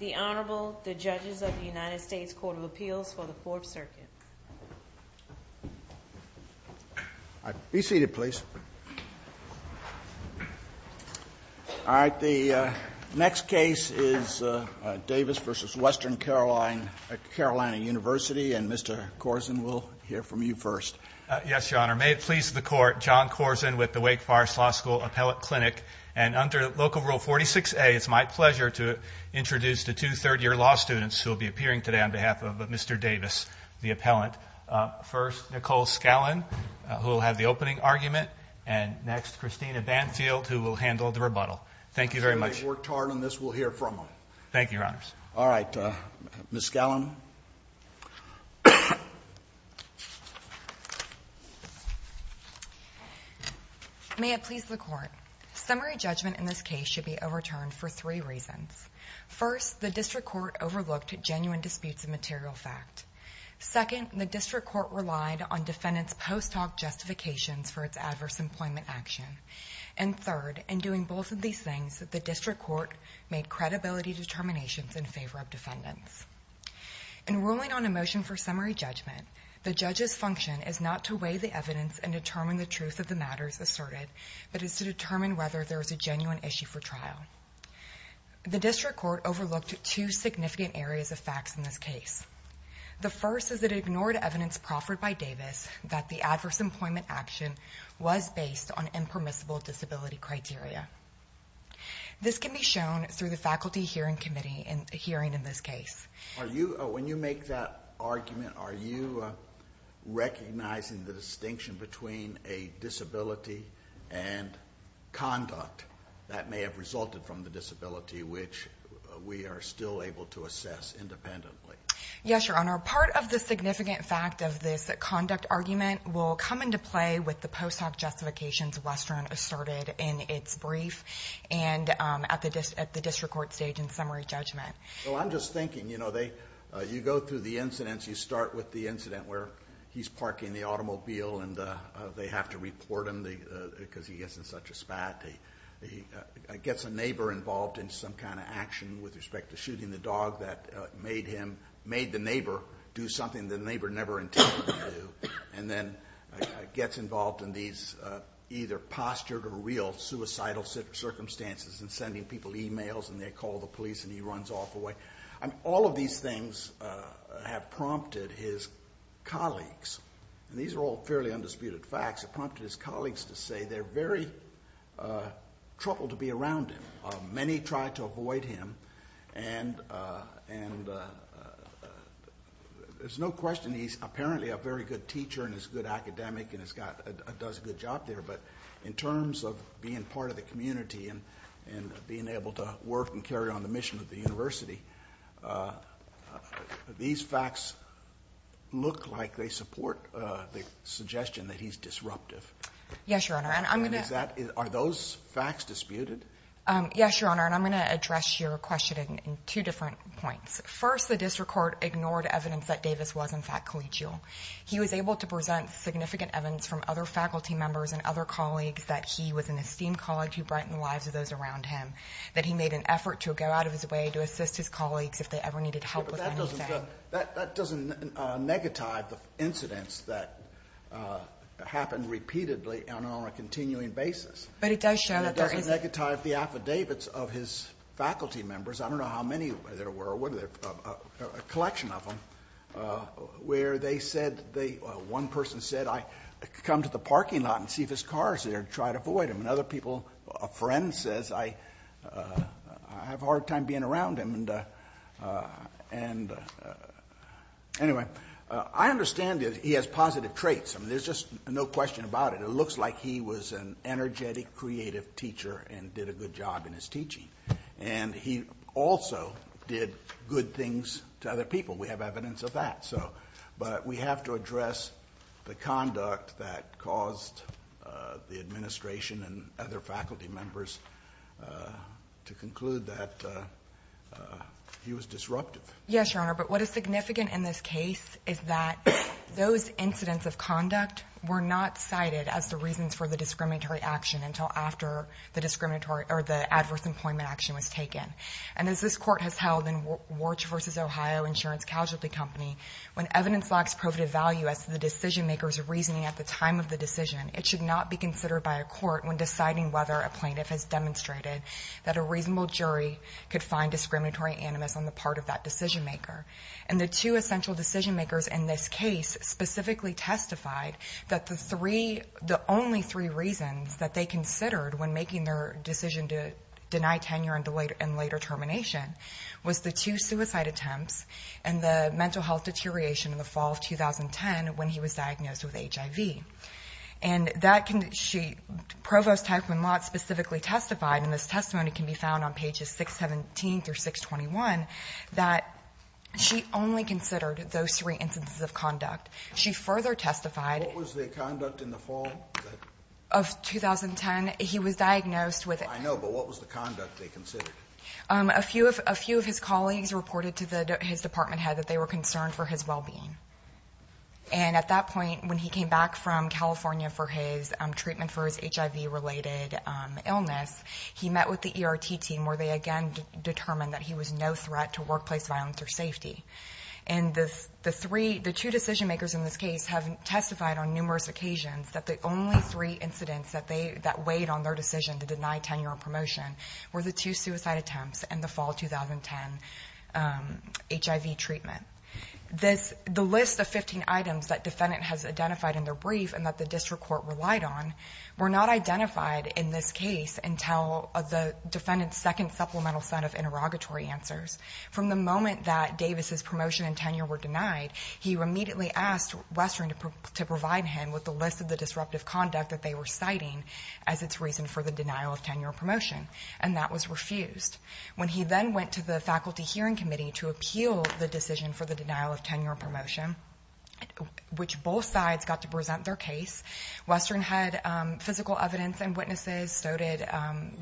The Honorable, the Judges of the United States Court of Appeals for the Fourth Circuit. Be seated, please. All right, the next case is Davis v. Western Carolina University, and Mr. Korsen, we'll hear from you first. Yes, Your Honor, may it please the Court, John Korsen with the Wake Forest Law School Appellate Clinic. And under Local Rule 46A, it's my pleasure to introduce the two third-year law students who will be appearing today on behalf of Mr. Davis, the appellant. First, Nicole Scallon, who will have the opening argument, and next, Christina Banfield, who will handle the rebuttal. Thank you very much. I'm sure they've worked hard on this. We'll hear from them. Thank you, Your Honors. All right, Ms. Scallon. May it please the Court. Summary judgment in this case should be overturned for three reasons. First, the district court overlooked genuine disputes of material fact. Second, the district court relied on defendants' post hoc justifications for its adverse employment action. And third, in doing both of these things, the district court made credibility determinations in favor of defendants. In ruling on a motion for summary judgment, the judge's function is not to weigh the evidence and determine the truth of the matters asserted, but is to determine whether there is a genuine issue for trial. The district court overlooked two significant areas of facts in this case. The first is that it ignored evidence proffered by Davis that the adverse employment action was based on impermissible disability criteria. This can be shown through the Faculty Hearing Committee hearing in this case. When you make that argument, are you recognizing the distinction between a disability and conduct that may have resulted from the disability, which we are still able to assess independently? Yes, Your Honor. Part of the significant fact of this conduct argument will come into play with the post hoc justifications Western asserted in its brief and at the district court stage in summary judgment. Well, I'm just thinking, you know, you go through the incidents. You start with the incident where he's parking the automobile and they have to report him because he gets in such a spat. He gets a neighbor involved in some kind of action with respect to shooting the dog that made him, made the neighbor do something the neighbor never intended to do, and then gets involved in these either postured or real suicidal circumstances and sending people e-mails and they call the police and he runs off away. All of these things have prompted his colleagues, and these are all fairly undisputed facts, have prompted his colleagues to say they're very troubled to be around him. Many try to avoid him and there's no question he's apparently a very good teacher and is a good academic and does a good job there, but in terms of being part of the community and being able to work and carry on the mission of the university, these facts look like they support the suggestion that he's disruptive. Yes, Your Honor, and I'm going to... Are those facts disputed? Yes, Your Honor, and I'm going to address your question in two different points. First, the district court ignored evidence that Davis was in fact collegial. He was able to present significant evidence from other faculty members and other colleagues that he was an esteemed colleague who brightened the lives of those around him, that he made an effort to go out of his way to assist his colleagues if they ever needed help with anything. But that doesn't negative the incidents that happen repeatedly and on a continuing basis. But it does show that there is... It doesn't negative the affidavits of his faculty members. I don't know how many there were, a collection of them, where they said, one person said, I come to the parking lot and see if his car is there to try to avoid him, and other people, a friend says, I have a hard time being around him. And anyway, I understand that he has positive traits. I mean, there's just no question about it. It looks like he was an energetic, creative teacher and did a good job in his teaching. And he also did good things to other people. We have evidence of that. So, but we have to address the conduct that caused the administration and other faculty members to conclude that he was disruptive. Yes, Your Honor, but what is significant in this case is that those incidents of conduct were not cited as the reasons for the discriminatory action until after the discriminatory or the adverse employment action was taken. And as this Court has held in Warch v. Ohio Insurance Casualty Company, when evidence lacks probative value as to the decision-maker's reasoning at the time of the decision, it should not be considered by a court when deciding whether a plaintiff has demonstrated that a reasonable jury could find discriminatory animus on the part of that decision-maker. And the two essential decision-makers in this case specifically testified that the three, three reasons that they considered when making their decision to deny tenure and later termination was the two suicide attempts and the mental health deterioration in the fall of 2010 when he was diagnosed with HIV. And that can be, she, Provost Taekman Lott specifically testified, and this testimony can be found on pages 617 through 621, that she only considered those three instances of conduct. She further testified. What was their conduct in the fall of 2010? He was diagnosed with it. I know, but what was the conduct they considered? A few of his colleagues reported to his department head that they were concerned for his well-being. And at that point, when he came back from California for his treatment for his HIV-related illness, he met with the ERT team where they again determined that he was no threat to workplace violence or safety. And the three, the two decision-makers in this case have testified on numerous occasions that the only three incidents that weighed on their decision to deny tenure and promotion were the two suicide attempts and the fall of 2010 HIV treatment. The list of 15 items that defendant has identified in their brief and that the district court relied on were not identified in this case until the defendant's second supplemental set of interrogatory answers. From the moment that Davis's promotion and tenure were denied, he immediately asked Western to provide him with the list of the disruptive conduct that they were citing as its reason for the denial of tenure and promotion, and that was refused. When he then went to the faculty hearing committee to appeal the decision for the denial of tenure and promotion, which both sides got to present their case, Western had physical evidence and witnesses, so did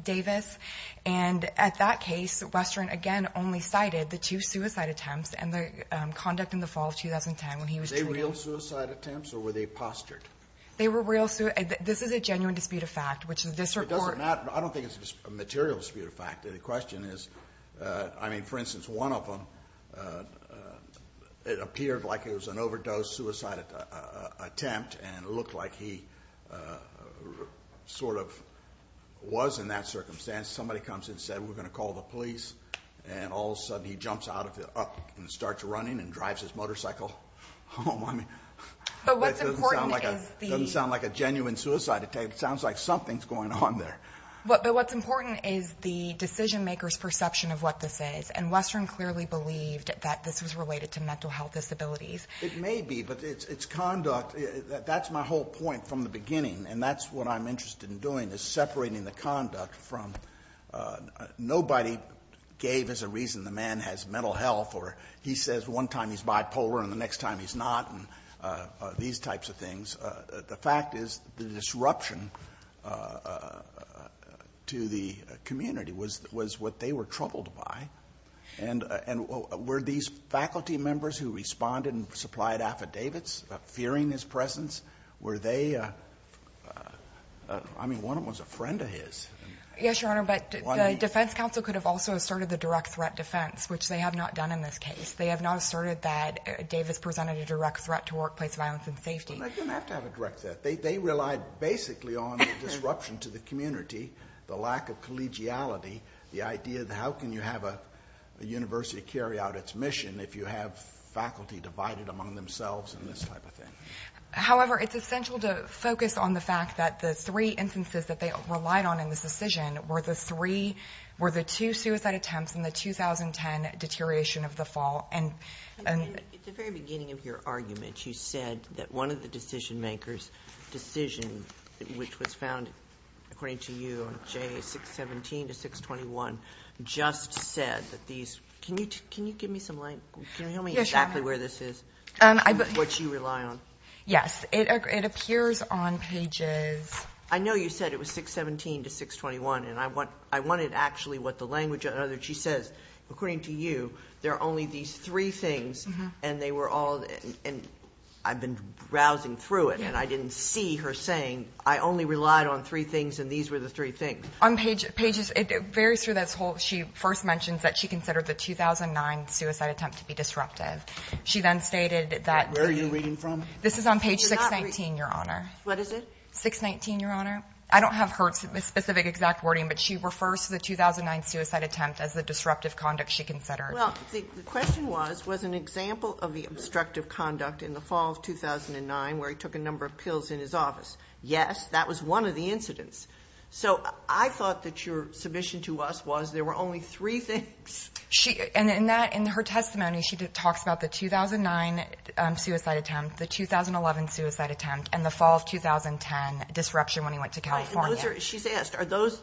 Davis. And at that case, Western, again, only cited the two suicide attempts and the conduct in the fall of 2010 when he was treated. Were they real suicide attempts, or were they postured? They were real suicide attempts. This is a genuine dispute of fact, which is this report. It doesn't matter. I don't think it's a material dispute of fact. The question is, I mean, for instance, one of them, it appeared like it was an overdose suicide attempt and it looked like he sort of was in that circumstance. Somebody comes and said, we're going to call the police. And all of a sudden, he jumps out of the car and starts running and drives his motorcycle home. I mean, that doesn't sound like a genuine suicide attempt. It sounds like something's going on there. But what's important is the decision-maker's perception of what this is, and Western clearly believed that this was related to mental health disabilities. It may be, but it's conduct. That's my whole point from the beginning, and that's what I'm interested in doing, is separating the conduct from nobody gave as a reason the man has mental health or he says one time he's bipolar and the next time he's not and these types of things. The fact is the disruption to the community was what they were troubled by. And were these faculty members who responded and supplied affidavits fearing his presence, were they, I mean, one of them was a friend of his. Yes, Your Honor, but the defense counsel could have also asserted the direct threat defense, which they have not done in this case. They have not asserted that Davis presented a direct threat to workplace violence and safety. They didn't have to have a direct threat. They relied basically on the disruption to the community, the lack of collegiality, the idea that how can you have a university carry out its mission if you have faculty divided among themselves and this type of thing. However, it's essential to focus on the fact that the three instances that they relied on in this decision were the two suicide attempts and the 2010 deterioration of the fall. At the very beginning of your argument, you said that one of the decision makers' decision, which was found, according to you, on J617 to 621, just said that these. Can you give me some light? Can you tell me exactly where this is, what you rely on? Yes. It appears on pages. I know you said it was 617 to 621, and I wanted actually what the language of it. She says, according to you, there are only these three things, and they were all, and I've been browsing through it and I didn't see her saying, I only relied on three things and these were the three things. On pages, it varies through this whole. She first mentions that she considered the 2009 suicide attempt to be disruptive. She then stated that. Where are you reading from? This is on page 619, Your Honor. What is it? 619, Your Honor. I don't have her specific exact wording, but she refers to the 2009 suicide attempt as the disruptive conduct she considered. Well, the question was, was an example of the obstructive conduct in the fall of 2009 where he took a number of pills in his office. Yes, that was one of the incidents. So I thought that your submission to us was there were only three things. And in that, in her testimony, she talks about the 2009 suicide attempt, the 2011 suicide attempt, and the fall of 2010 disruption when he went to California. She's asked, are those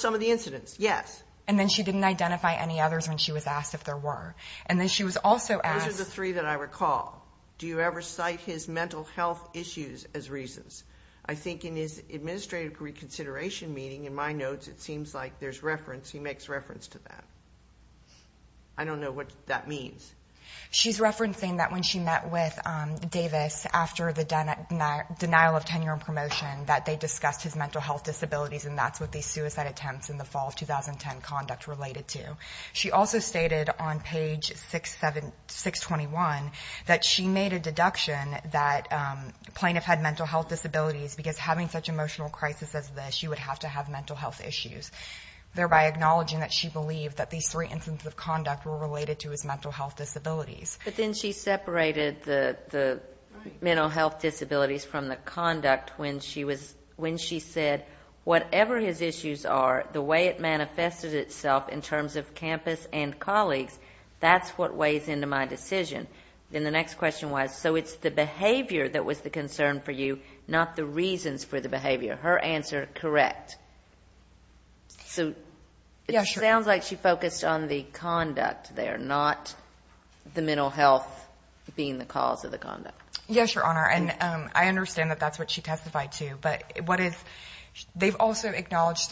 some of the incidents? Yes. And then she didn't identify any others when she was asked if there were. And then she was also asked. Those are the three that I recall. Do you ever cite his mental health issues as reasons? I think in his administrative reconsideration meeting, in my notes, it seems like there's reference, he makes reference to that. I don't know what that means. She's referencing that when she met with Davis after the denial of tenure and promotion, that they discussed his mental health disabilities, and that's what these suicide attempts in the fall of 2010 conduct related to. She also stated on page 621 that she made a deduction that plaintiff had mental health disabilities because having such emotional crisis as this, she would have to have mental health issues, thereby acknowledging that she believed that these three instances of conduct were related to his mental health disabilities. But then she separated the mental health disabilities from the conduct when she said, whatever his issues are, the way it manifested itself in terms of campus and colleagues, that's what weighs into my decision. Then the next question was, so it's the behavior that was the concern for you, not the reasons for the behavior. Her answer, correct. So it sounds like she focused on the conduct there, not the mental health being the cause of the conduct. Yes, Your Honor. And I understand that that's what she testified to, but they've also acknowledged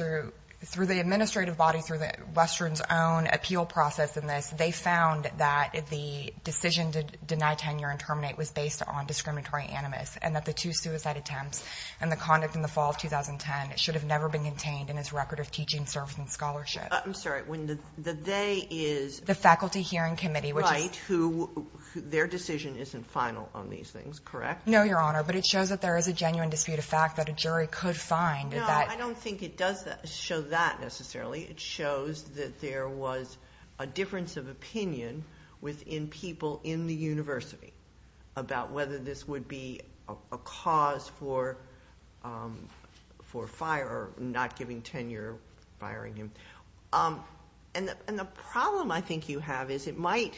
through the administrative body, through Western's own appeal process in this, they found that the decision to deny tenure and terminate was based on discriminatory animus, and that the two suicide attempts and the conduct in the fall of 2010 should have never been contained in his record of teaching, service, and scholarship. I'm sorry, when the they is... The faculty hearing committee, which is... Their decision isn't final on these things, correct? No, Your Honor, but it shows that there is a genuine dispute of fact that a jury could find that... No, I don't think it does show that necessarily. It shows that there was a difference of opinion within people in the university about whether this would be a cause for fire or not giving tenure, firing him. And the problem I think you have is it might,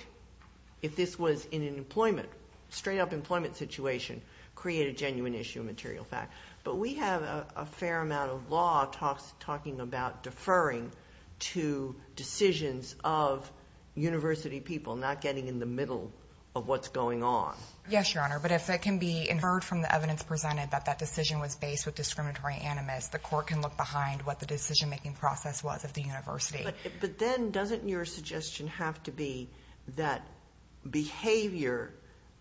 if this was in an employment, straight up employment situation, create a genuine issue of material fact. But we have a fair amount of law talking about deferring to decisions of university people, not getting in the middle of what's going on. Yes, Your Honor, but if it can be inferred from the evidence presented that that decision was based with discriminatory animus, the court can look behind what the decision-making process was of the university. But then doesn't your suggestion have to be that behavior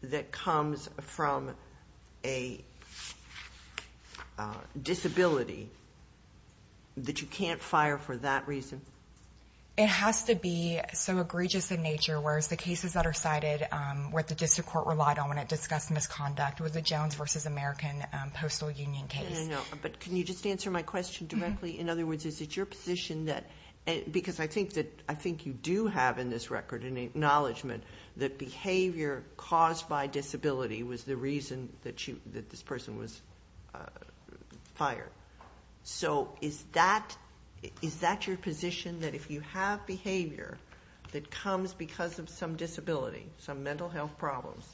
that comes from a disability that you can't fire for that reason? It has to be so egregious in nature, whereas the cases that are cited, what the district court relied on when it discussed misconduct, was a Jones v. American postal union case. But can you just answer my question directly? In other words, is it your position that, because I think you do have in this record an acknowledgment that behavior caused by disability was the reason that this person was fired. So is that your position, that if you have behavior that comes because of some disability, some mental health problems,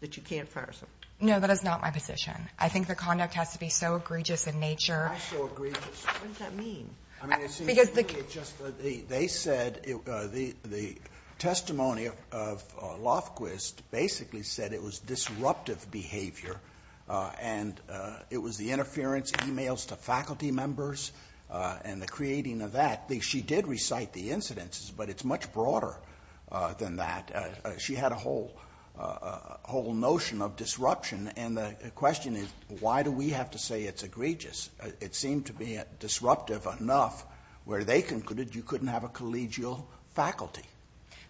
that you can't fire someone? No, that is not my position. I think the conduct has to be so egregious in nature. Why so egregious? What does that mean? I mean, it seems to me it's just that they said, the testimony of Lofquist basically said it was disruptive behavior and it was the interference emails to faculty members and the creating of that. She did recite the incidences, but it's much broader than that. She had a whole notion of disruption. And the question is, why do we have to say it's egregious? It seemed to be disruptive enough where they concluded you couldn't have a collegial faculty.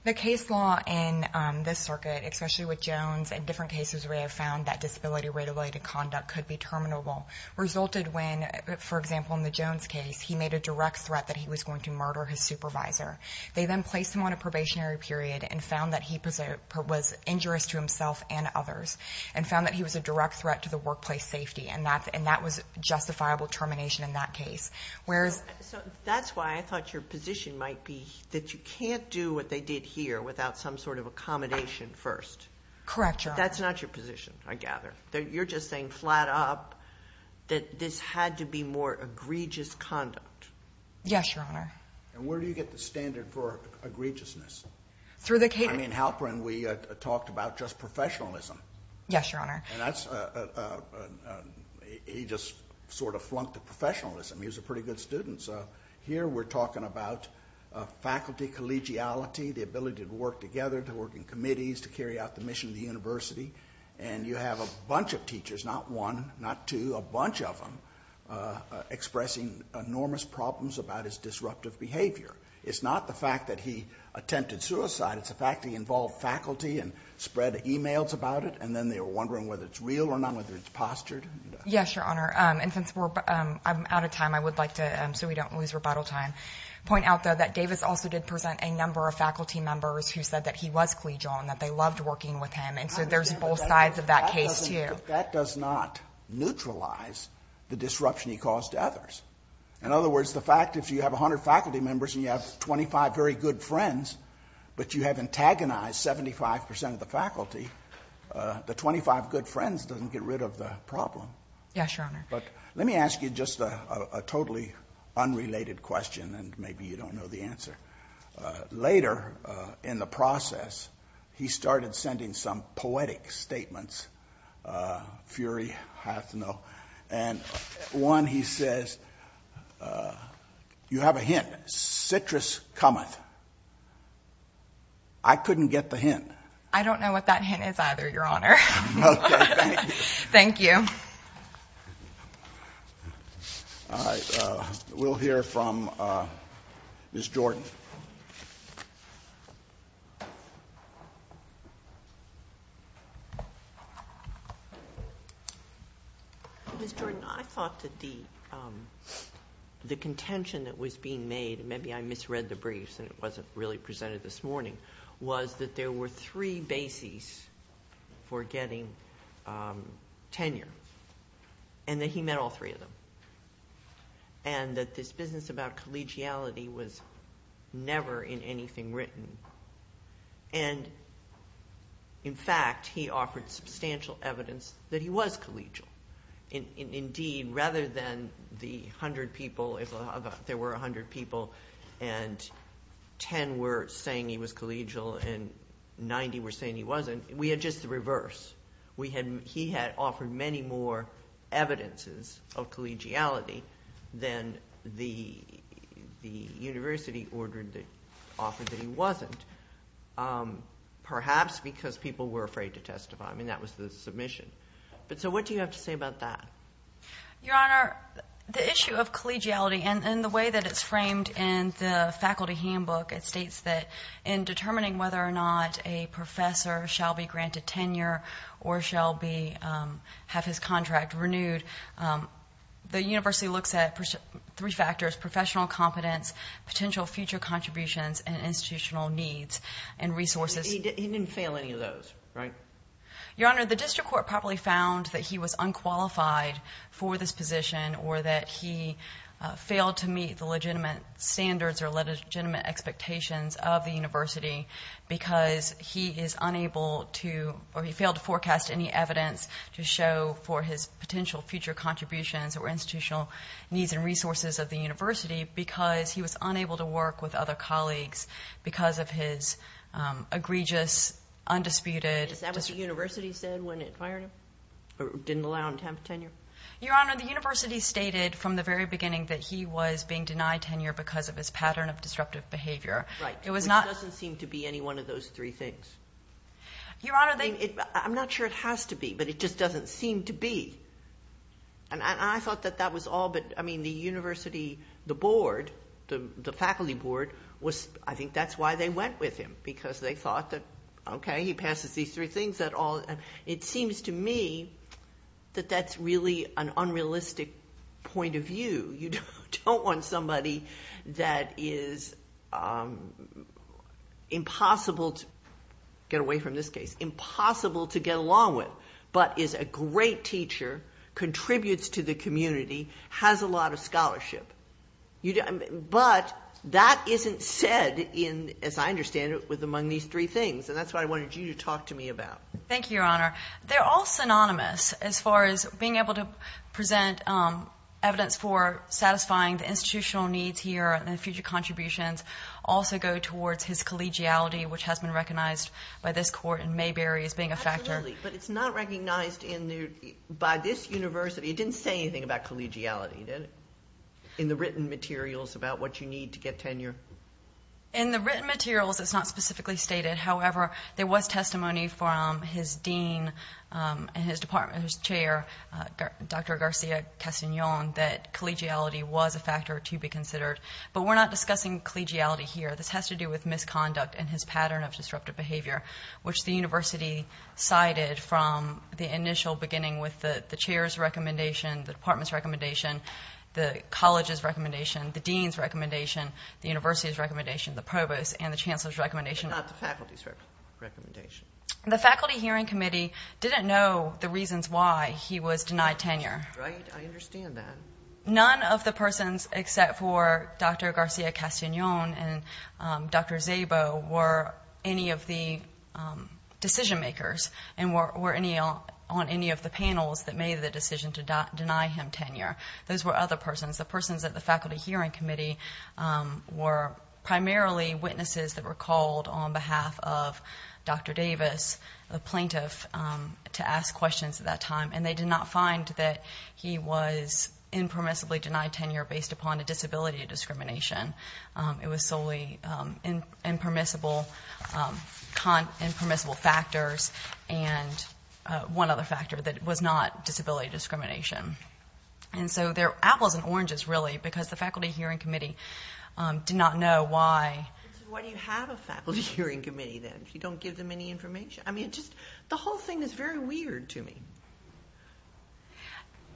The case law in this circuit, especially with Jones and different cases where they have found that disability-related conduct could be terminable, resulted when, for example, in the Jones case, he made a direct threat that he was going to murder his supervisor. They then placed him on a probationary period and found that he was injurious to himself and others and found that he was a direct threat to the workplace safety, and that was justifiable termination in that case. So that's why I thought your position might be that you can't do what they did here without some sort of accommodation first. Correct, Your Honor. That's not your position, I gather. You're just saying flat up that this had to be more egregious conduct. Yes, Your Honor. And where do you get the standard for egregiousness? I mean, Halperin, we talked about just professionalism. Yes, Your Honor. And he just sort of flunked the professionalism. He was a pretty good student. So here we're talking about faculty collegiality, the ability to work together, to work in committees, to carry out the mission of the university, and you have a bunch of teachers, not one, not two, a bunch of them, expressing enormous problems about his disruptive behavior. It's not the fact that he attempted suicide. It's the fact that he involved faculty and spread e-mails about it, and then they were wondering whether it's real or not, whether it's postured. Yes, Your Honor. And since I'm out of time, I would like to, so we don't lose rebuttal time, point out, though, that Davis also did present a number of faculty members who said that he was collegial and that they loved working with him, and so there's both sides of that case, too. But that does not neutralize the disruption he caused to others. In other words, the fact if you have 100 faculty members and you have 25 very good friends, but you have antagonized 75% of the faculty, the 25 good friends doesn't get rid of the problem. Yes, Your Honor. But let me ask you just a totally unrelated question, and maybe you don't know the answer. Later in the process, he started sending some poetic statements, Fury, I have to know, and one, he says, you have a hint, citrus cometh. I couldn't get the hint. I don't know what that hint is either, Your Honor. Thank you. Thank you. All right. We'll hear from Ms. Jordan. Ms. Jordan, I thought that the contention that was being made, maybe I misread the briefs and it wasn't really presented this morning, was that there were three bases for getting tenure and that he met all three of them and that this business about collegiality was never in anything written. And, in fact, he offered substantial evidence that he was collegial. Indeed, rather than the 100 people, if there were 100 people and 10 were saying he was collegial and 90 were saying he wasn't, we had just the reverse. He had offered many more evidences of collegiality than the university offered that he wasn't, perhaps because people were afraid to testify. I mean, that was the submission. So what do you have to say about that? Your Honor, the issue of collegiality and the way that it's framed in the faculty handbook, it states that in determining whether or not a professor shall be granted tenure or shall have his contract renewed, the university looks at three factors, professional competence, potential future contributions, and institutional needs and resources. He didn't fail any of those, right? Your Honor, the district court probably found that he was unqualified for this position or that he failed to meet the legitimate standards or legitimate expectations of the university because he is unable to or he failed to forecast any evidence to show for his potential future contributions or institutional needs and resources of the university because he was unable to work with other colleagues because of his egregious, undisputed... Is that what the university said when it fired him or didn't allow him to have tenure? Your Honor, the university stated from the very beginning that he was being denied tenure because of his pattern of disruptive behavior. Right. It doesn't seem to be any one of those three things. Your Honor, they... I mean, I'm not sure it has to be, but it just doesn't seem to be. And I thought that that was all, but, I mean, the university, the board, the faculty board, I think that's why they went with him because they thought that, okay, he passes these three things. It seems to me that that's really an unrealistic point of view. You don't want somebody that is impossible to get away from this case, impossible to get along with, but is a great teacher, contributes to the community, has a lot of scholarship. But that isn't said in, as I understand it, with among these three things, and that's what I wanted you to talk to me about. Thank you, Your Honor. They're all synonymous as far as being able to present evidence for satisfying the institutional needs here and the future contributions also go towards his collegiality, which has been recognized by this court in Mayberry as being a factor. But it's not recognized by this university. It didn't say anything about collegiality, did it, in the written materials about what you need to get tenure? In the written materials, it's not specifically stated. However, there was testimony from his dean and his chair, Dr. Garcia-Castagnon, that collegiality was a factor to be considered. But we're not discussing collegiality here. This has to do with misconduct and his pattern of disruptive behavior, which the university cited from the initial beginning with the chair's recommendation, the department's recommendation, the college's recommendation, the dean's recommendation, the university's recommendation, the provost and the chancellor's recommendation. But not the faculty's recommendation. The Faculty Hearing Committee didn't know the reasons why he was denied tenure. Right, I understand that. None of the persons except for Dr. Garcia-Castagnon and Dr. Szabo were any of the decision makers and were on any of the panels that made the decision to deny him tenure. Those were other persons. The persons at the Faculty Hearing Committee were primarily witnesses that were called on behalf of Dr. Davis, the plaintiff, to ask questions at that time. And they did not find that he was impermissibly denied tenure based upon a disability discrimination. It was solely impermissible factors and one other factor that was not disability discrimination. And so they're apples and oranges, really, because the Faculty Hearing Committee did not know why. Why do you have a Faculty Hearing Committee, then, if you don't give them any information? I mean, just the whole thing is very weird to me.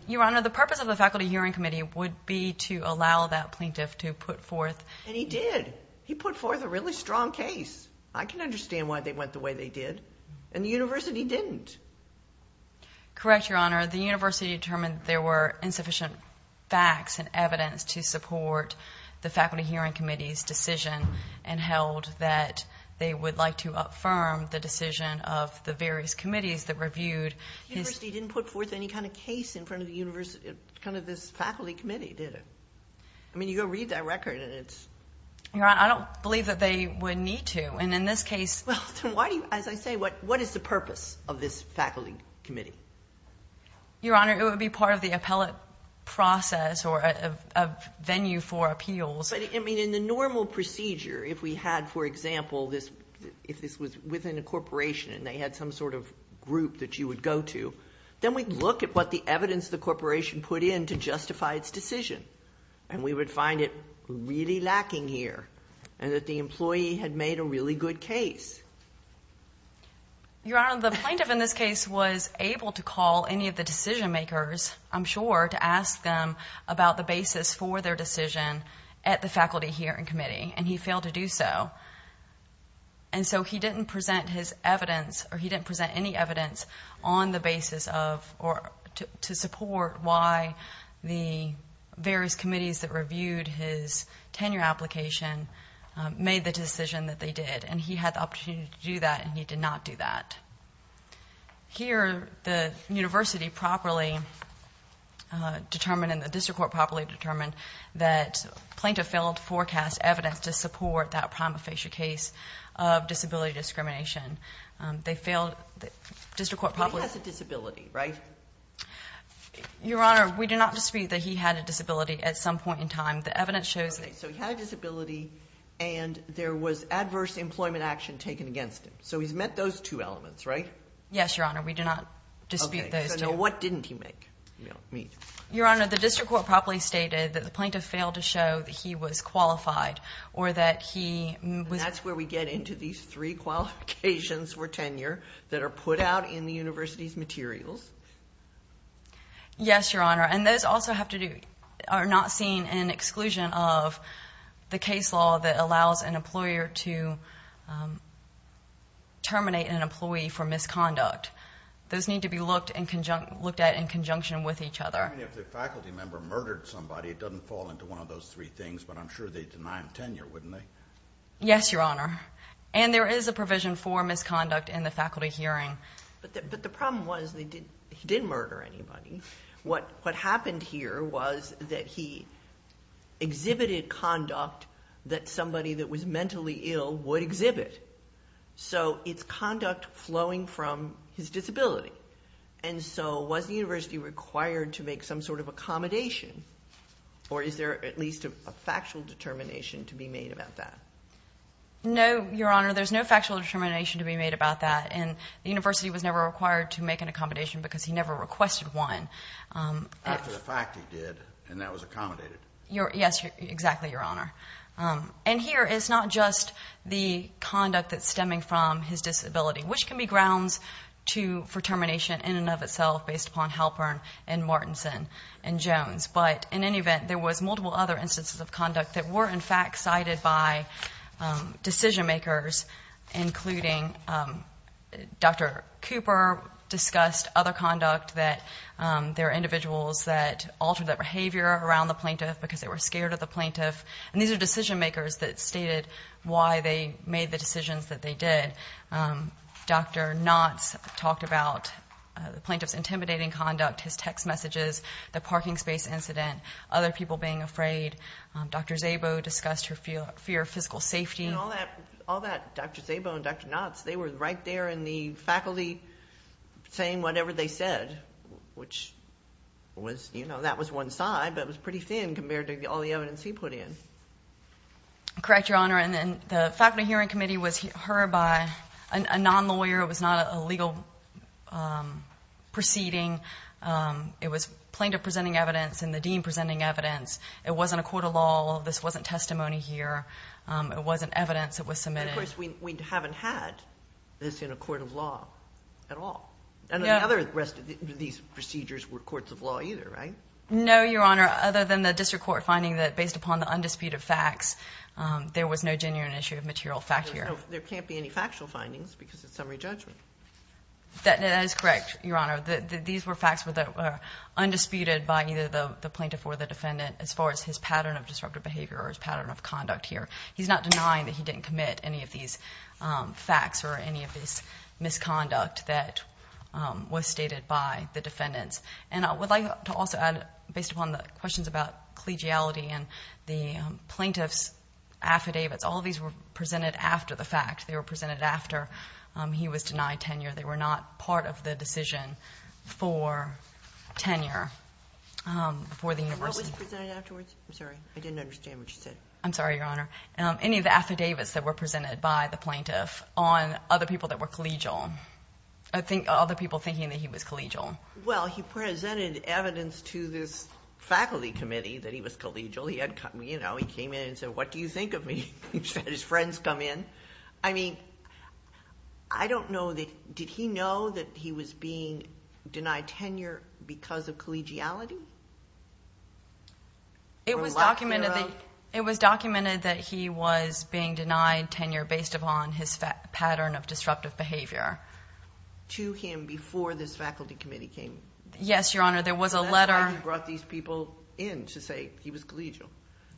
Your Honor, the purpose of the Faculty Hearing Committee would be to allow that plaintiff to put forth And he did. He put forth a really strong case. I can understand why they went the way they did. And the university didn't. Correct, Your Honor. The university determined there were insufficient facts and evidence to support the Faculty Hearing Committee's decision and held that they would like to upfirm the decision of the various committees that reviewed his The university didn't put forth any kind of case in front of this faculty committee, did it? I mean, you go read that record and it's Your Honor, I don't believe that they would need to. And in this case Well, then why do you, as I say, what is the purpose of this faculty committee? Your Honor, it would be part of the appellate process or a venue for appeals. I mean, in the normal procedure, if we had, for example, if this was within a corporation and they had some sort of group that you would go to, then we'd look at what the evidence the corporation put in to justify its decision. And we would find it really lacking here and that the employee had made a really good case. Your Honor, the plaintiff in this case was able to call any of the decision makers, I'm sure, to ask them about the basis for their decision at the faculty hearing committee. And he failed to do so. And so he didn't present his evidence or he didn't present any evidence on the basis of or to support why the various committees that reviewed his tenure application made the decision that they did. And he had the opportunity to do that and he did not do that. Here, the university properly determined and the district court properly determined that plaintiff failed to forecast evidence to support that prima facie case of disability discrimination. They failed, the district court properly- He has a disability, right? Your Honor, we do not dispute that he had a disability at some point in time. The evidence shows- Okay, so he had a disability and there was adverse employment action taken against him. So he's met those two elements, right? Yes, Your Honor, we do not dispute those two. Okay, so now what didn't he make? Your Honor, the district court properly stated that the plaintiff failed to show that he was qualified or that he was- That's where we get into these three qualifications for tenure that are put out in the university's materials. Yes, Your Honor. And those also have to do- are not seen in exclusion of the case law that allows an employer to terminate an employee for misconduct. Those need to be looked at in conjunction with each other. I mean, if the faculty member murdered somebody, it doesn't fall into one of those three things, but I'm sure they'd deny him tenure, wouldn't they? Yes, Your Honor. And there is a provision for misconduct in the faculty hearing. But the problem was he didn't murder anybody. What happened here was that he exhibited conduct that somebody that was mentally ill would exhibit. So it's conduct flowing from his disability. And so was the university required to make some sort of accommodation, or is there at least a factual determination to be made about that? No, Your Honor, there's no factual determination to be made about that. And the university was never required to make an accommodation because he never requested one. After the fact he did, and that was accommodated. Yes, exactly, Your Honor. And here, it's not just the conduct that's stemming from his disability, which can be grounds for termination in and of itself based upon Halpern and Martinson and Jones. But in any event, there was multiple other instances of conduct that were, in fact, cited by decision-makers, including Dr. Cooper discussed other conduct, that there are individuals that altered their behavior around the plaintiff because they were scared of the plaintiff. And these are decision-makers that stated why they made the decisions that they did. Dr. Knotts talked about the plaintiff's intimidating conduct, his text messages, the parking space incident, other people being afraid. Dr. Szabo discussed her fear of physical safety. And all that, Dr. Szabo and Dr. Knotts, they were right there in the faculty saying whatever they said, which was, you know, that was one side, but it was pretty thin compared to all the evidence he put in. Correct, Your Honor. And the faculty hearing committee was heard by a non-lawyer. It was not a legal proceeding. It was plaintiff presenting evidence and the dean presenting evidence. It wasn't a court of law. This wasn't testimony here. It wasn't evidence that was submitted. Of course, we haven't had this in a court of law at all. And the other rest of these procedures were courts of law either, right? No, Your Honor, other than the district court finding that based upon the undisputed facts, there was no genuine issue of material fact here. There can't be any factual findings because it's summary judgment. That is correct, Your Honor. These were facts that were undisputed by either the plaintiff or the defendant as far as his pattern of disruptive behavior or his pattern of conduct here. He's not denying that he didn't commit any of these facts or any of this misconduct that was stated by the defendants. And I would like to also add, based upon the questions about collegiality and the plaintiff's affidavits, all of these were presented after the fact. They were presented after he was denied tenure. They were not part of the decision for tenure for the university. And what was presented afterwards? I'm sorry. I didn't understand what you said. I'm sorry, Your Honor. Any of the affidavits that were presented by the plaintiff on other people that were collegial, other people thinking that he was collegial. Well, he presented evidence to this faculty committee that he was collegial. He had come, you know, he came in and said, what do you think of me? His friends come in. I mean, I don't know that, did he know that he was being denied tenure because of collegiality? It was documented that he was being denied tenure based upon his pattern of disruptive behavior. To him before this faculty committee came? Yes, Your Honor. There was a letter. That's why he brought these people in to say he was collegial.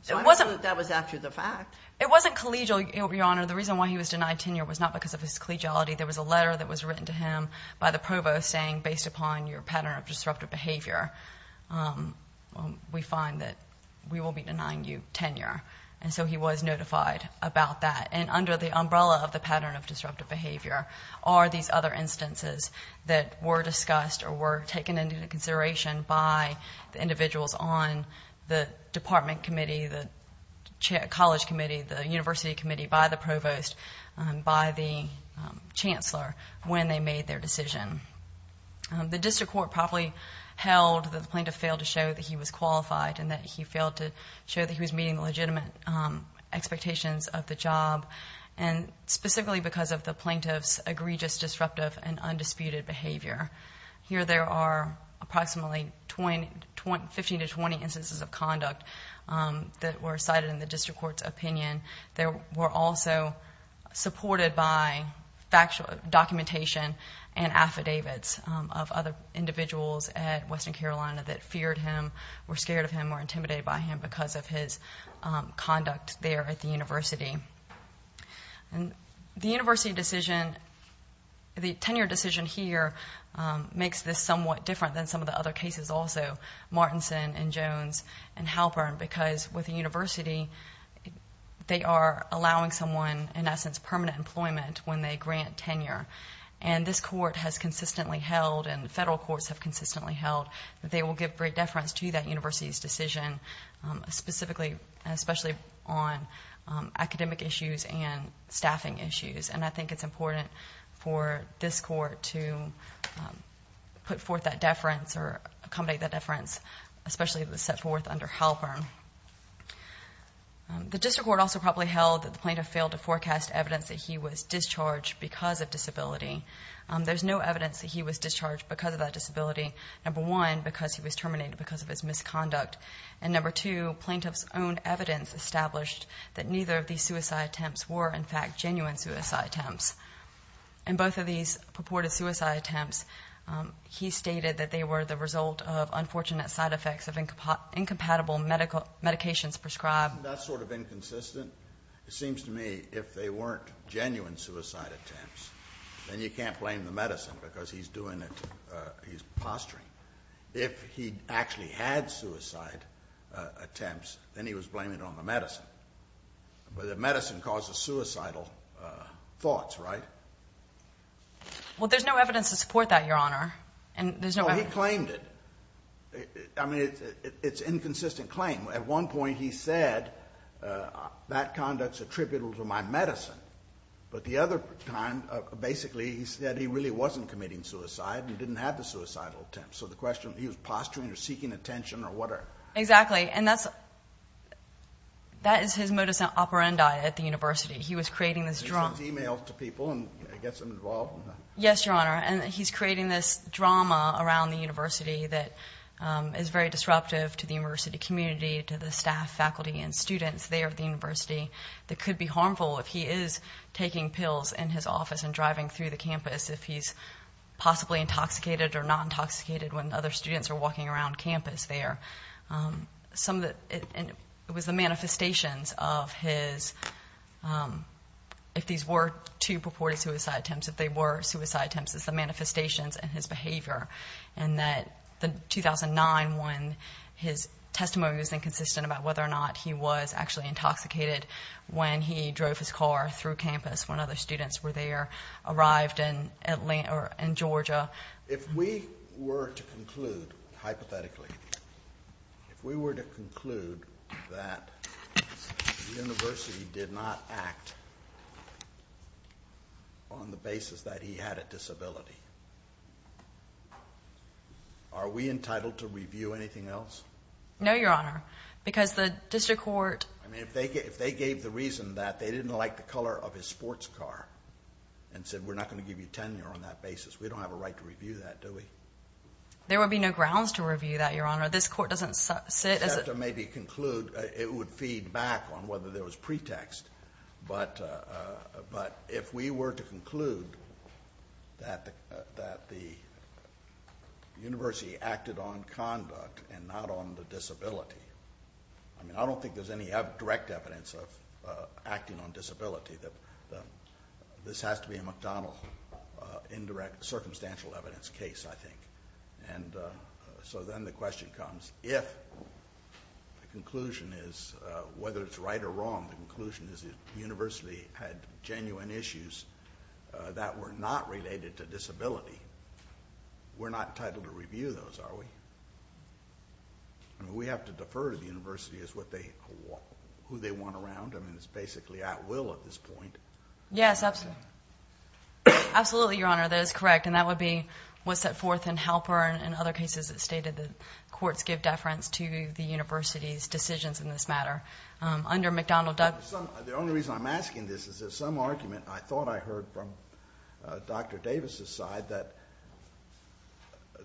So I assume that was after the fact. It wasn't collegial, Your Honor. The reason why he was denied tenure was not because of his collegiality. There was a letter that was written to him by the provost saying, based upon your pattern of disruptive behavior, we find that we will be denying you tenure. And so he was notified about that. And under the umbrella of the pattern of disruptive behavior are these other instances that were discussed or were taken into consideration by the individuals on the department committee, the college committee, the university committee, by the provost, by the chancellor when they made their decision. The district court probably held that the plaintiff failed to show that he was qualified and that he failed to show that he was meeting legitimate expectations of the job, and specifically because of the plaintiff's egregious, disruptive, and undisputed behavior. Here there are approximately 15 to 20 instances of conduct that were cited in the district court's opinion. They were also supported by documentation and affidavits of other individuals at Western Carolina that feared him, were scared of him, were intimidated by him because of his conduct there at the university. The university decision, the tenure decision here, makes this somewhat different than some of the other cases also, Martinson and Jones and Halpern, because with the university, they are allowing someone, in essence, permanent employment when they grant tenure. And this court has consistently held and federal courts have consistently held that they will give great deference to that university's decision, specifically and especially on academic issues and staffing issues. And I think it's important for this court to put forth that deference or accommodate that deference, especially if it's set forth under Halpern. The district court also probably held that the plaintiff failed to forecast evidence that he was discharged because of disability. There's no evidence that he was discharged because of that disability. Number one, because he was terminated because of his misconduct. And number two, plaintiff's own evidence established that neither of these suicide attempts were, in fact, genuine suicide attempts. In both of these purported suicide attempts, he stated that they were the result of unfortunate side effects of incompatible medications prescribed. Isn't that sort of inconsistent? It seems to me if they weren't genuine suicide attempts, then you can't blame the medicine because he's doing it, he's posturing. If he actually had suicide attempts, then he was blaming it on the medicine. But the medicine causes suicidal thoughts, right? Well, there's no evidence to support that, Your Honor, and there's no evidence. No, he claimed it. I mean, it's an inconsistent claim. At one point, he said, that conduct's attributable to my medicine. But the other time, basically, he said he really wasn't committing suicide and didn't have the suicidal attempt. So the question, he was posturing or seeking attention or whatever. Exactly. And that is his modus operandi at the university. He was creating this drama. He sends emails to people and gets them involved. Yes, Your Honor. And he's creating this drama around the university that is very disruptive to the university community, to the staff, faculty, and students there at the university, that could be harmful if he is taking pills in his office and driving through the campus, if he's possibly intoxicated or not intoxicated when other students are walking around campus there. It was the manifestations of his, if these were two purported suicide attempts, if they were suicide attempts, it's the manifestations and his behavior. And that the 2009 one, his testimony was inconsistent about whether or not he was actually intoxicated when he drove his car through campus when other students were there, arrived in Georgia. If we were to conclude, hypothetically, if we were to conclude that the university did not act on the basis that he had a disability, are we entitled to review anything else? No, Your Honor, because the district court. I mean, if they gave the reason that they didn't like the color of his sports car and said we're not going to give you tenure on that basis, we don't have a right to review that, do we? There would be no grounds to review that, Your Honor. This court doesn't sit as a... We'd have to maybe conclude, it would feed back on whether there was pretext. But if we were to conclude that the university acted on conduct and not on the disability, I mean, I don't think there's any direct evidence of acting on disability. This has to be a McDonnell indirect circumstantial evidence case, I think. And so then the question comes, if the conclusion is, whether it's right or wrong, the conclusion is the university had genuine issues that were not related to disability, we're not entitled to review those, are we? I mean, we have to defer to the university as to who they want around. I mean, it's basically at will at this point. Yes, absolutely. Absolutely, Your Honor, that is correct, and that would be what's set forth in Halpern and other cases that stated that courts give deference to the university's decisions in this matter. Under McDonnell... The only reason I'm asking this is there's some argument I thought I heard from Dr. Davis's side that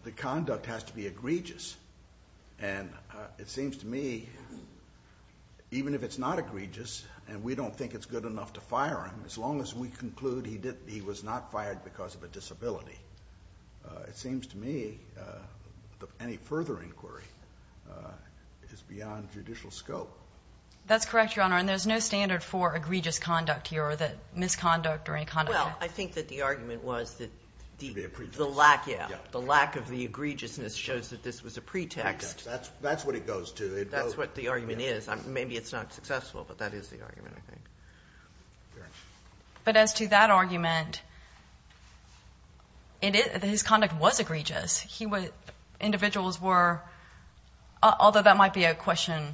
the conduct has to be egregious. And it seems to me, even if it's not egregious and we don't think it's good enough to fire him, as long as we conclude he was not fired because of a disability, it seems to me any further inquiry is beyond judicial scope. That's correct, Your Honor, and there's no standard for egregious conduct here or that misconduct or any conduct... Well, I think that the argument was that the lack of the egregiousness shows that this was a pretext. That's what it goes to. That's what the argument is. Maybe it's not successful, but that is the argument, I think. But as to that argument, his conduct was egregious. Individuals were... Although that might be a question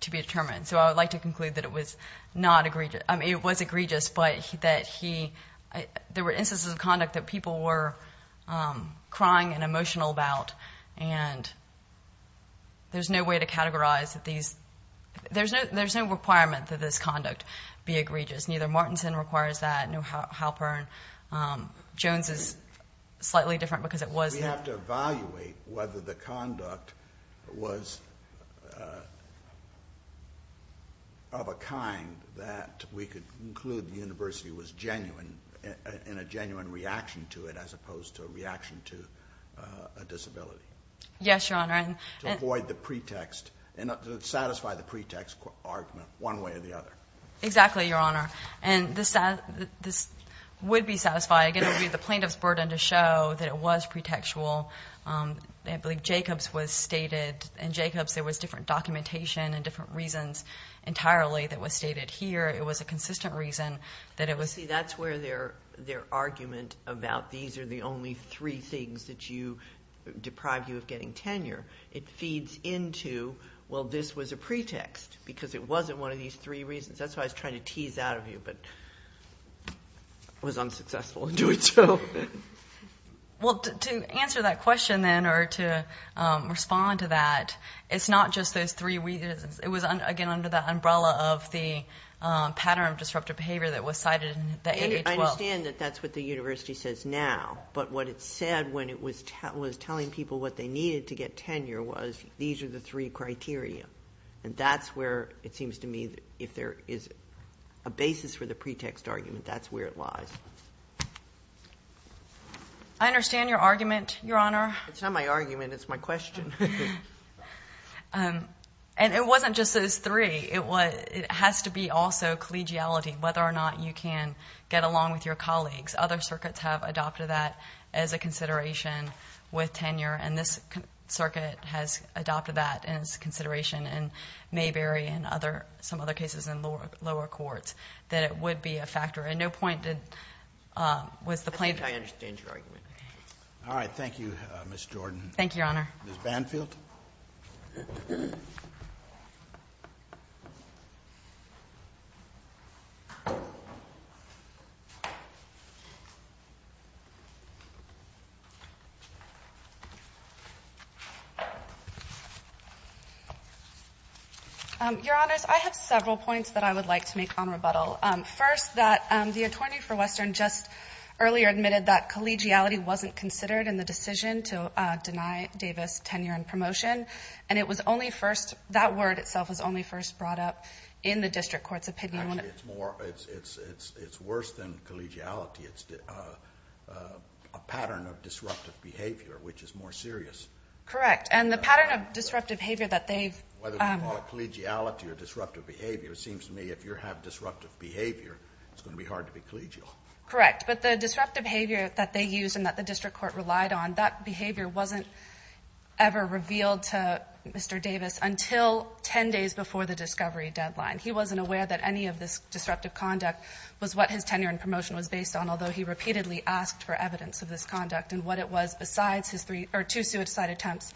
to be determined, so I would like to conclude that it was not egregious. I mean, it was egregious, but that he... There were instances of conduct that people were crying and emotional about, and there's no way to categorize that these... There's no requirement that this conduct be egregious. Neither Martinson requires that, nor Halpern. Jones is slightly different because it was... We have to evaluate whether the conduct was of a kind that we could conclude the university was genuine in a genuine reaction to it as opposed to a reaction to a disability. Yes, Your Honor. To avoid the pretext... To satisfy the pretext argument one way or the other. Exactly, Your Honor. And this would be satisfying. Again, it would be the plaintiff's burden to show that it was pretextual. I believe Jacobs was stated... In Jacobs, there was different documentation and different reasons entirely that was stated here. It was a consistent reason that it was... See, that's where their argument about these are the only three things that deprive you of getting tenure. It feeds into, well, this was a pretext because it wasn't one of these three reasons. That's why I was trying to tease out of you, but I was unsuccessful in doing so. Well, to answer that question then or to respond to that, it's not just those three reasons. It was, again, under the umbrella of the pattern of disruptive behavior that was cited in the AA12. I understand that that's what the university says now, but what it said when it was telling people what they needed to get tenure was these are the three criteria. And that's where it seems to me if there is a basis for the pretext argument, that's where it lies. I understand your argument, Your Honor. It's not my argument, it's my question. And it wasn't just those three. It has to be also collegiality, whether or not you can get along with your colleagues. Other circuits have adopted that as a consideration with tenure, and this circuit has adopted that as a consideration in Mayberry and some other cases in lower courts, that it would be a factor. And no point was the plaintiff... I think I understand your argument. Thank you, Ms. Jordan. Thank you, Your Honor. Ms. Banfield. Your Honors, I have several points that I would like to make on rebuttal. First, that the attorney for Western just earlier admitted that collegiality wasn't considered in the decision to deny Davis tenure and promotion. And it was only first... That word itself was only first brought up in the district court's opinion. It's worse than collegiality. It's a pattern of disruptive behavior, which is more serious. Correct. And the pattern of disruptive behavior that they've... Whether we call it collegiality or disruptive behavior, it seems to me if you have disruptive behavior, it's going to be hard to be collegial. Correct. But the disruptive behavior that they used and that the district court relied on, that behavior wasn't ever revealed to Mr. Davis until 10 days before the discovery deadline. He wasn't aware that any of this disruptive conduct was what his tenure and promotion was based on, although he repeatedly asked for evidence of this conduct and what it was besides his three or two suicide attempts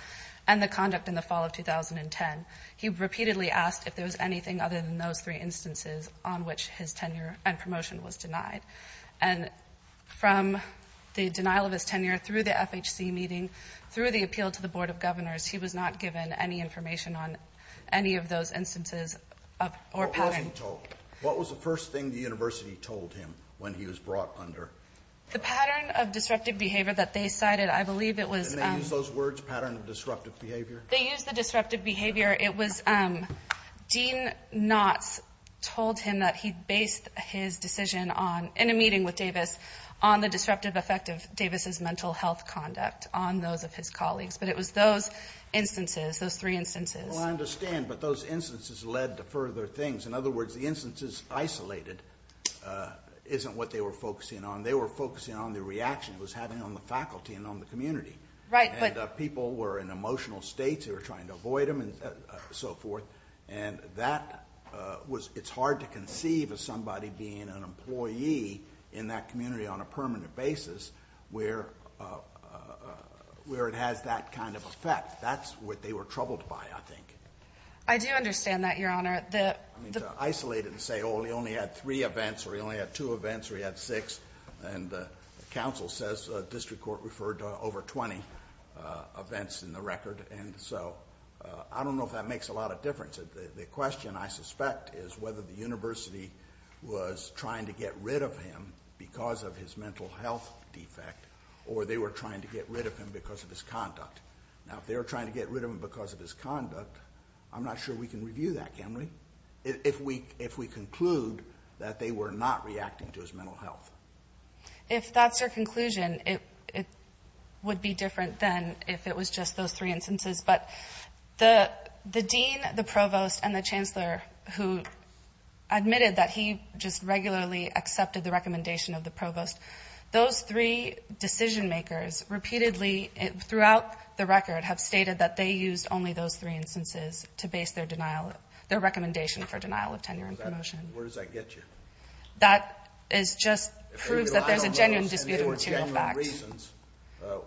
and the conduct in the fall of 2010. He repeatedly asked if there was anything other than those three instances on which his tenure and promotion was denied. And from the denial of his tenure through the FHC meeting, through the appeal to the Board of Governors, he was not given any information on any of those instances or patterns. What was he told? What was the first thing the university told him when he was brought under? The pattern of disruptive behavior that they cited, I believe it was... Didn't they use those words, pattern of disruptive behavior? They used the disruptive behavior. Dean Knotts told him that he based his decision on, in a meeting with Davis, on the disruptive effect of Davis's mental health conduct on those of his colleagues. But it was those instances, those three instances. Well, I understand, but those instances led to further things. In other words, the instances isolated isn't what they were focusing on. They were focusing on the reaction it was having on the faculty and on the community. Right, but... And so forth. And that was... It's hard to conceive of somebody being an employee in that community on a permanent basis where it has that kind of effect. That's what they were troubled by, I think. I do understand that, Your Honor. I mean, to isolate it and say, oh, he only had three events, or he only had two events, or he had six. And the council says the district court referred to over 20 events in the record. And so I don't know if that makes a lot of difference. The question, I suspect, is whether the university was trying to get rid of him because of his mental health defect, or they were trying to get rid of him because of his conduct. Now, if they were trying to get rid of him because of his conduct, I'm not sure we can review that, can we? If we conclude that they were not reacting to his mental health. If that's your conclusion, it would be different than if it was just those three instances. But the dean, the provost, and the chancellor who admitted that he just regularly accepted the recommendation of the provost, those three decision makers repeatedly throughout the record have stated that they used only those three instances to base their denial, their recommendation for denial of tenure and promotion. Where does that get you? That is just proves that there's a genuine dispute of material facts. And there were genuine reasons.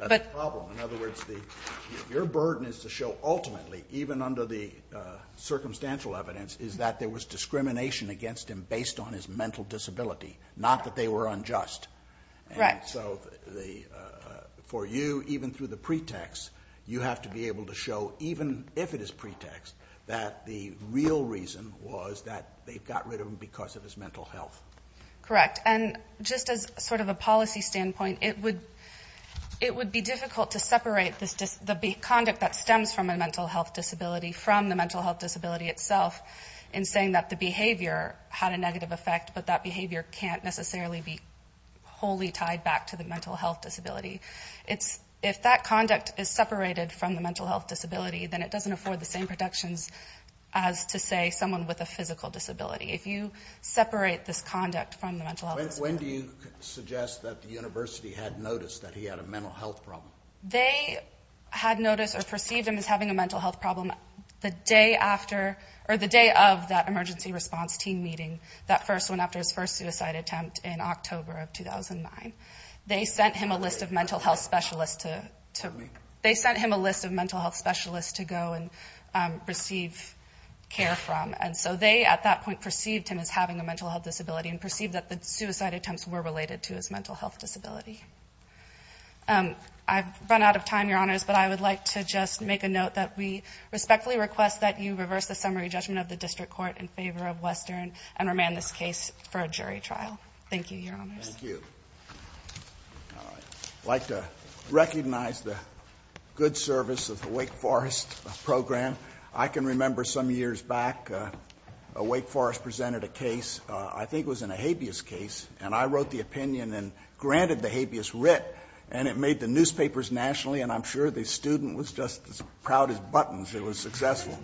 That's the problem. In other words, your burden is to show ultimately, even under the circumstantial evidence, is that there was discrimination against him based on his mental disability, not that they were unjust. Right. And so for you, even through the pretext, you have to be able to show, even if it is pretext, that the real reason was that they got rid of him because of his mental health. Correct. And just as sort of a policy standpoint, it would be difficult to separate the conduct that stems from a mental health disability from the mental health disability itself in saying that the behavior had a negative effect, but that behavior can't necessarily be wholly tied back to the mental health disability. If that conduct is separated from the mental health disability, then it doesn't afford the same protections as to say someone with a physical disability. If you separate this conduct from the mental health disability. When do you suggest that the university had noticed that he had a mental health problem? They had noticed or perceived him as having a mental health problem the day after or the day of that emergency response team meeting, that first one after his first suicide attempt in October of 2009. They sent him a list of mental health specialists to, they sent him a list of mental health specialists to go and receive care from. And so they, at that point perceived him as having a mental health disability and perceived that the suicide attempts were related to his mental health disability. I've run out of time, your honors, but I would like to just make a note that we respectfully request that you reverse the summary judgment of the district court in favor of Western and remand this case for a jury trial. Thank you, your honors. Thank you. All right. I'd like to recognize the good service of the Wake Forest program. I can remember some years back, a Wake Forest presented a case, I think it was in a habeas case and I wrote the opinion and granted the habeas writ and it made the newspapers nationally. And I'm sure the student was just as proud as buttons. It was successful.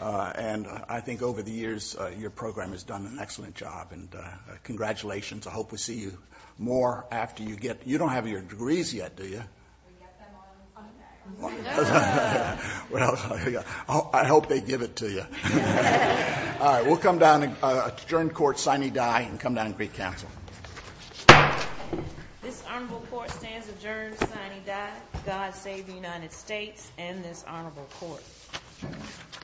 And I think over the years, your program has done an excellent job and congratulations. I hope we see you more after you get, you don't have your degrees yet. Do you? Well, I hope they give it to you. All right. We'll come down and adjourn court sine die and come down and greet council. This honorable court stands adjourned sine die. God save the United States and this honorable court.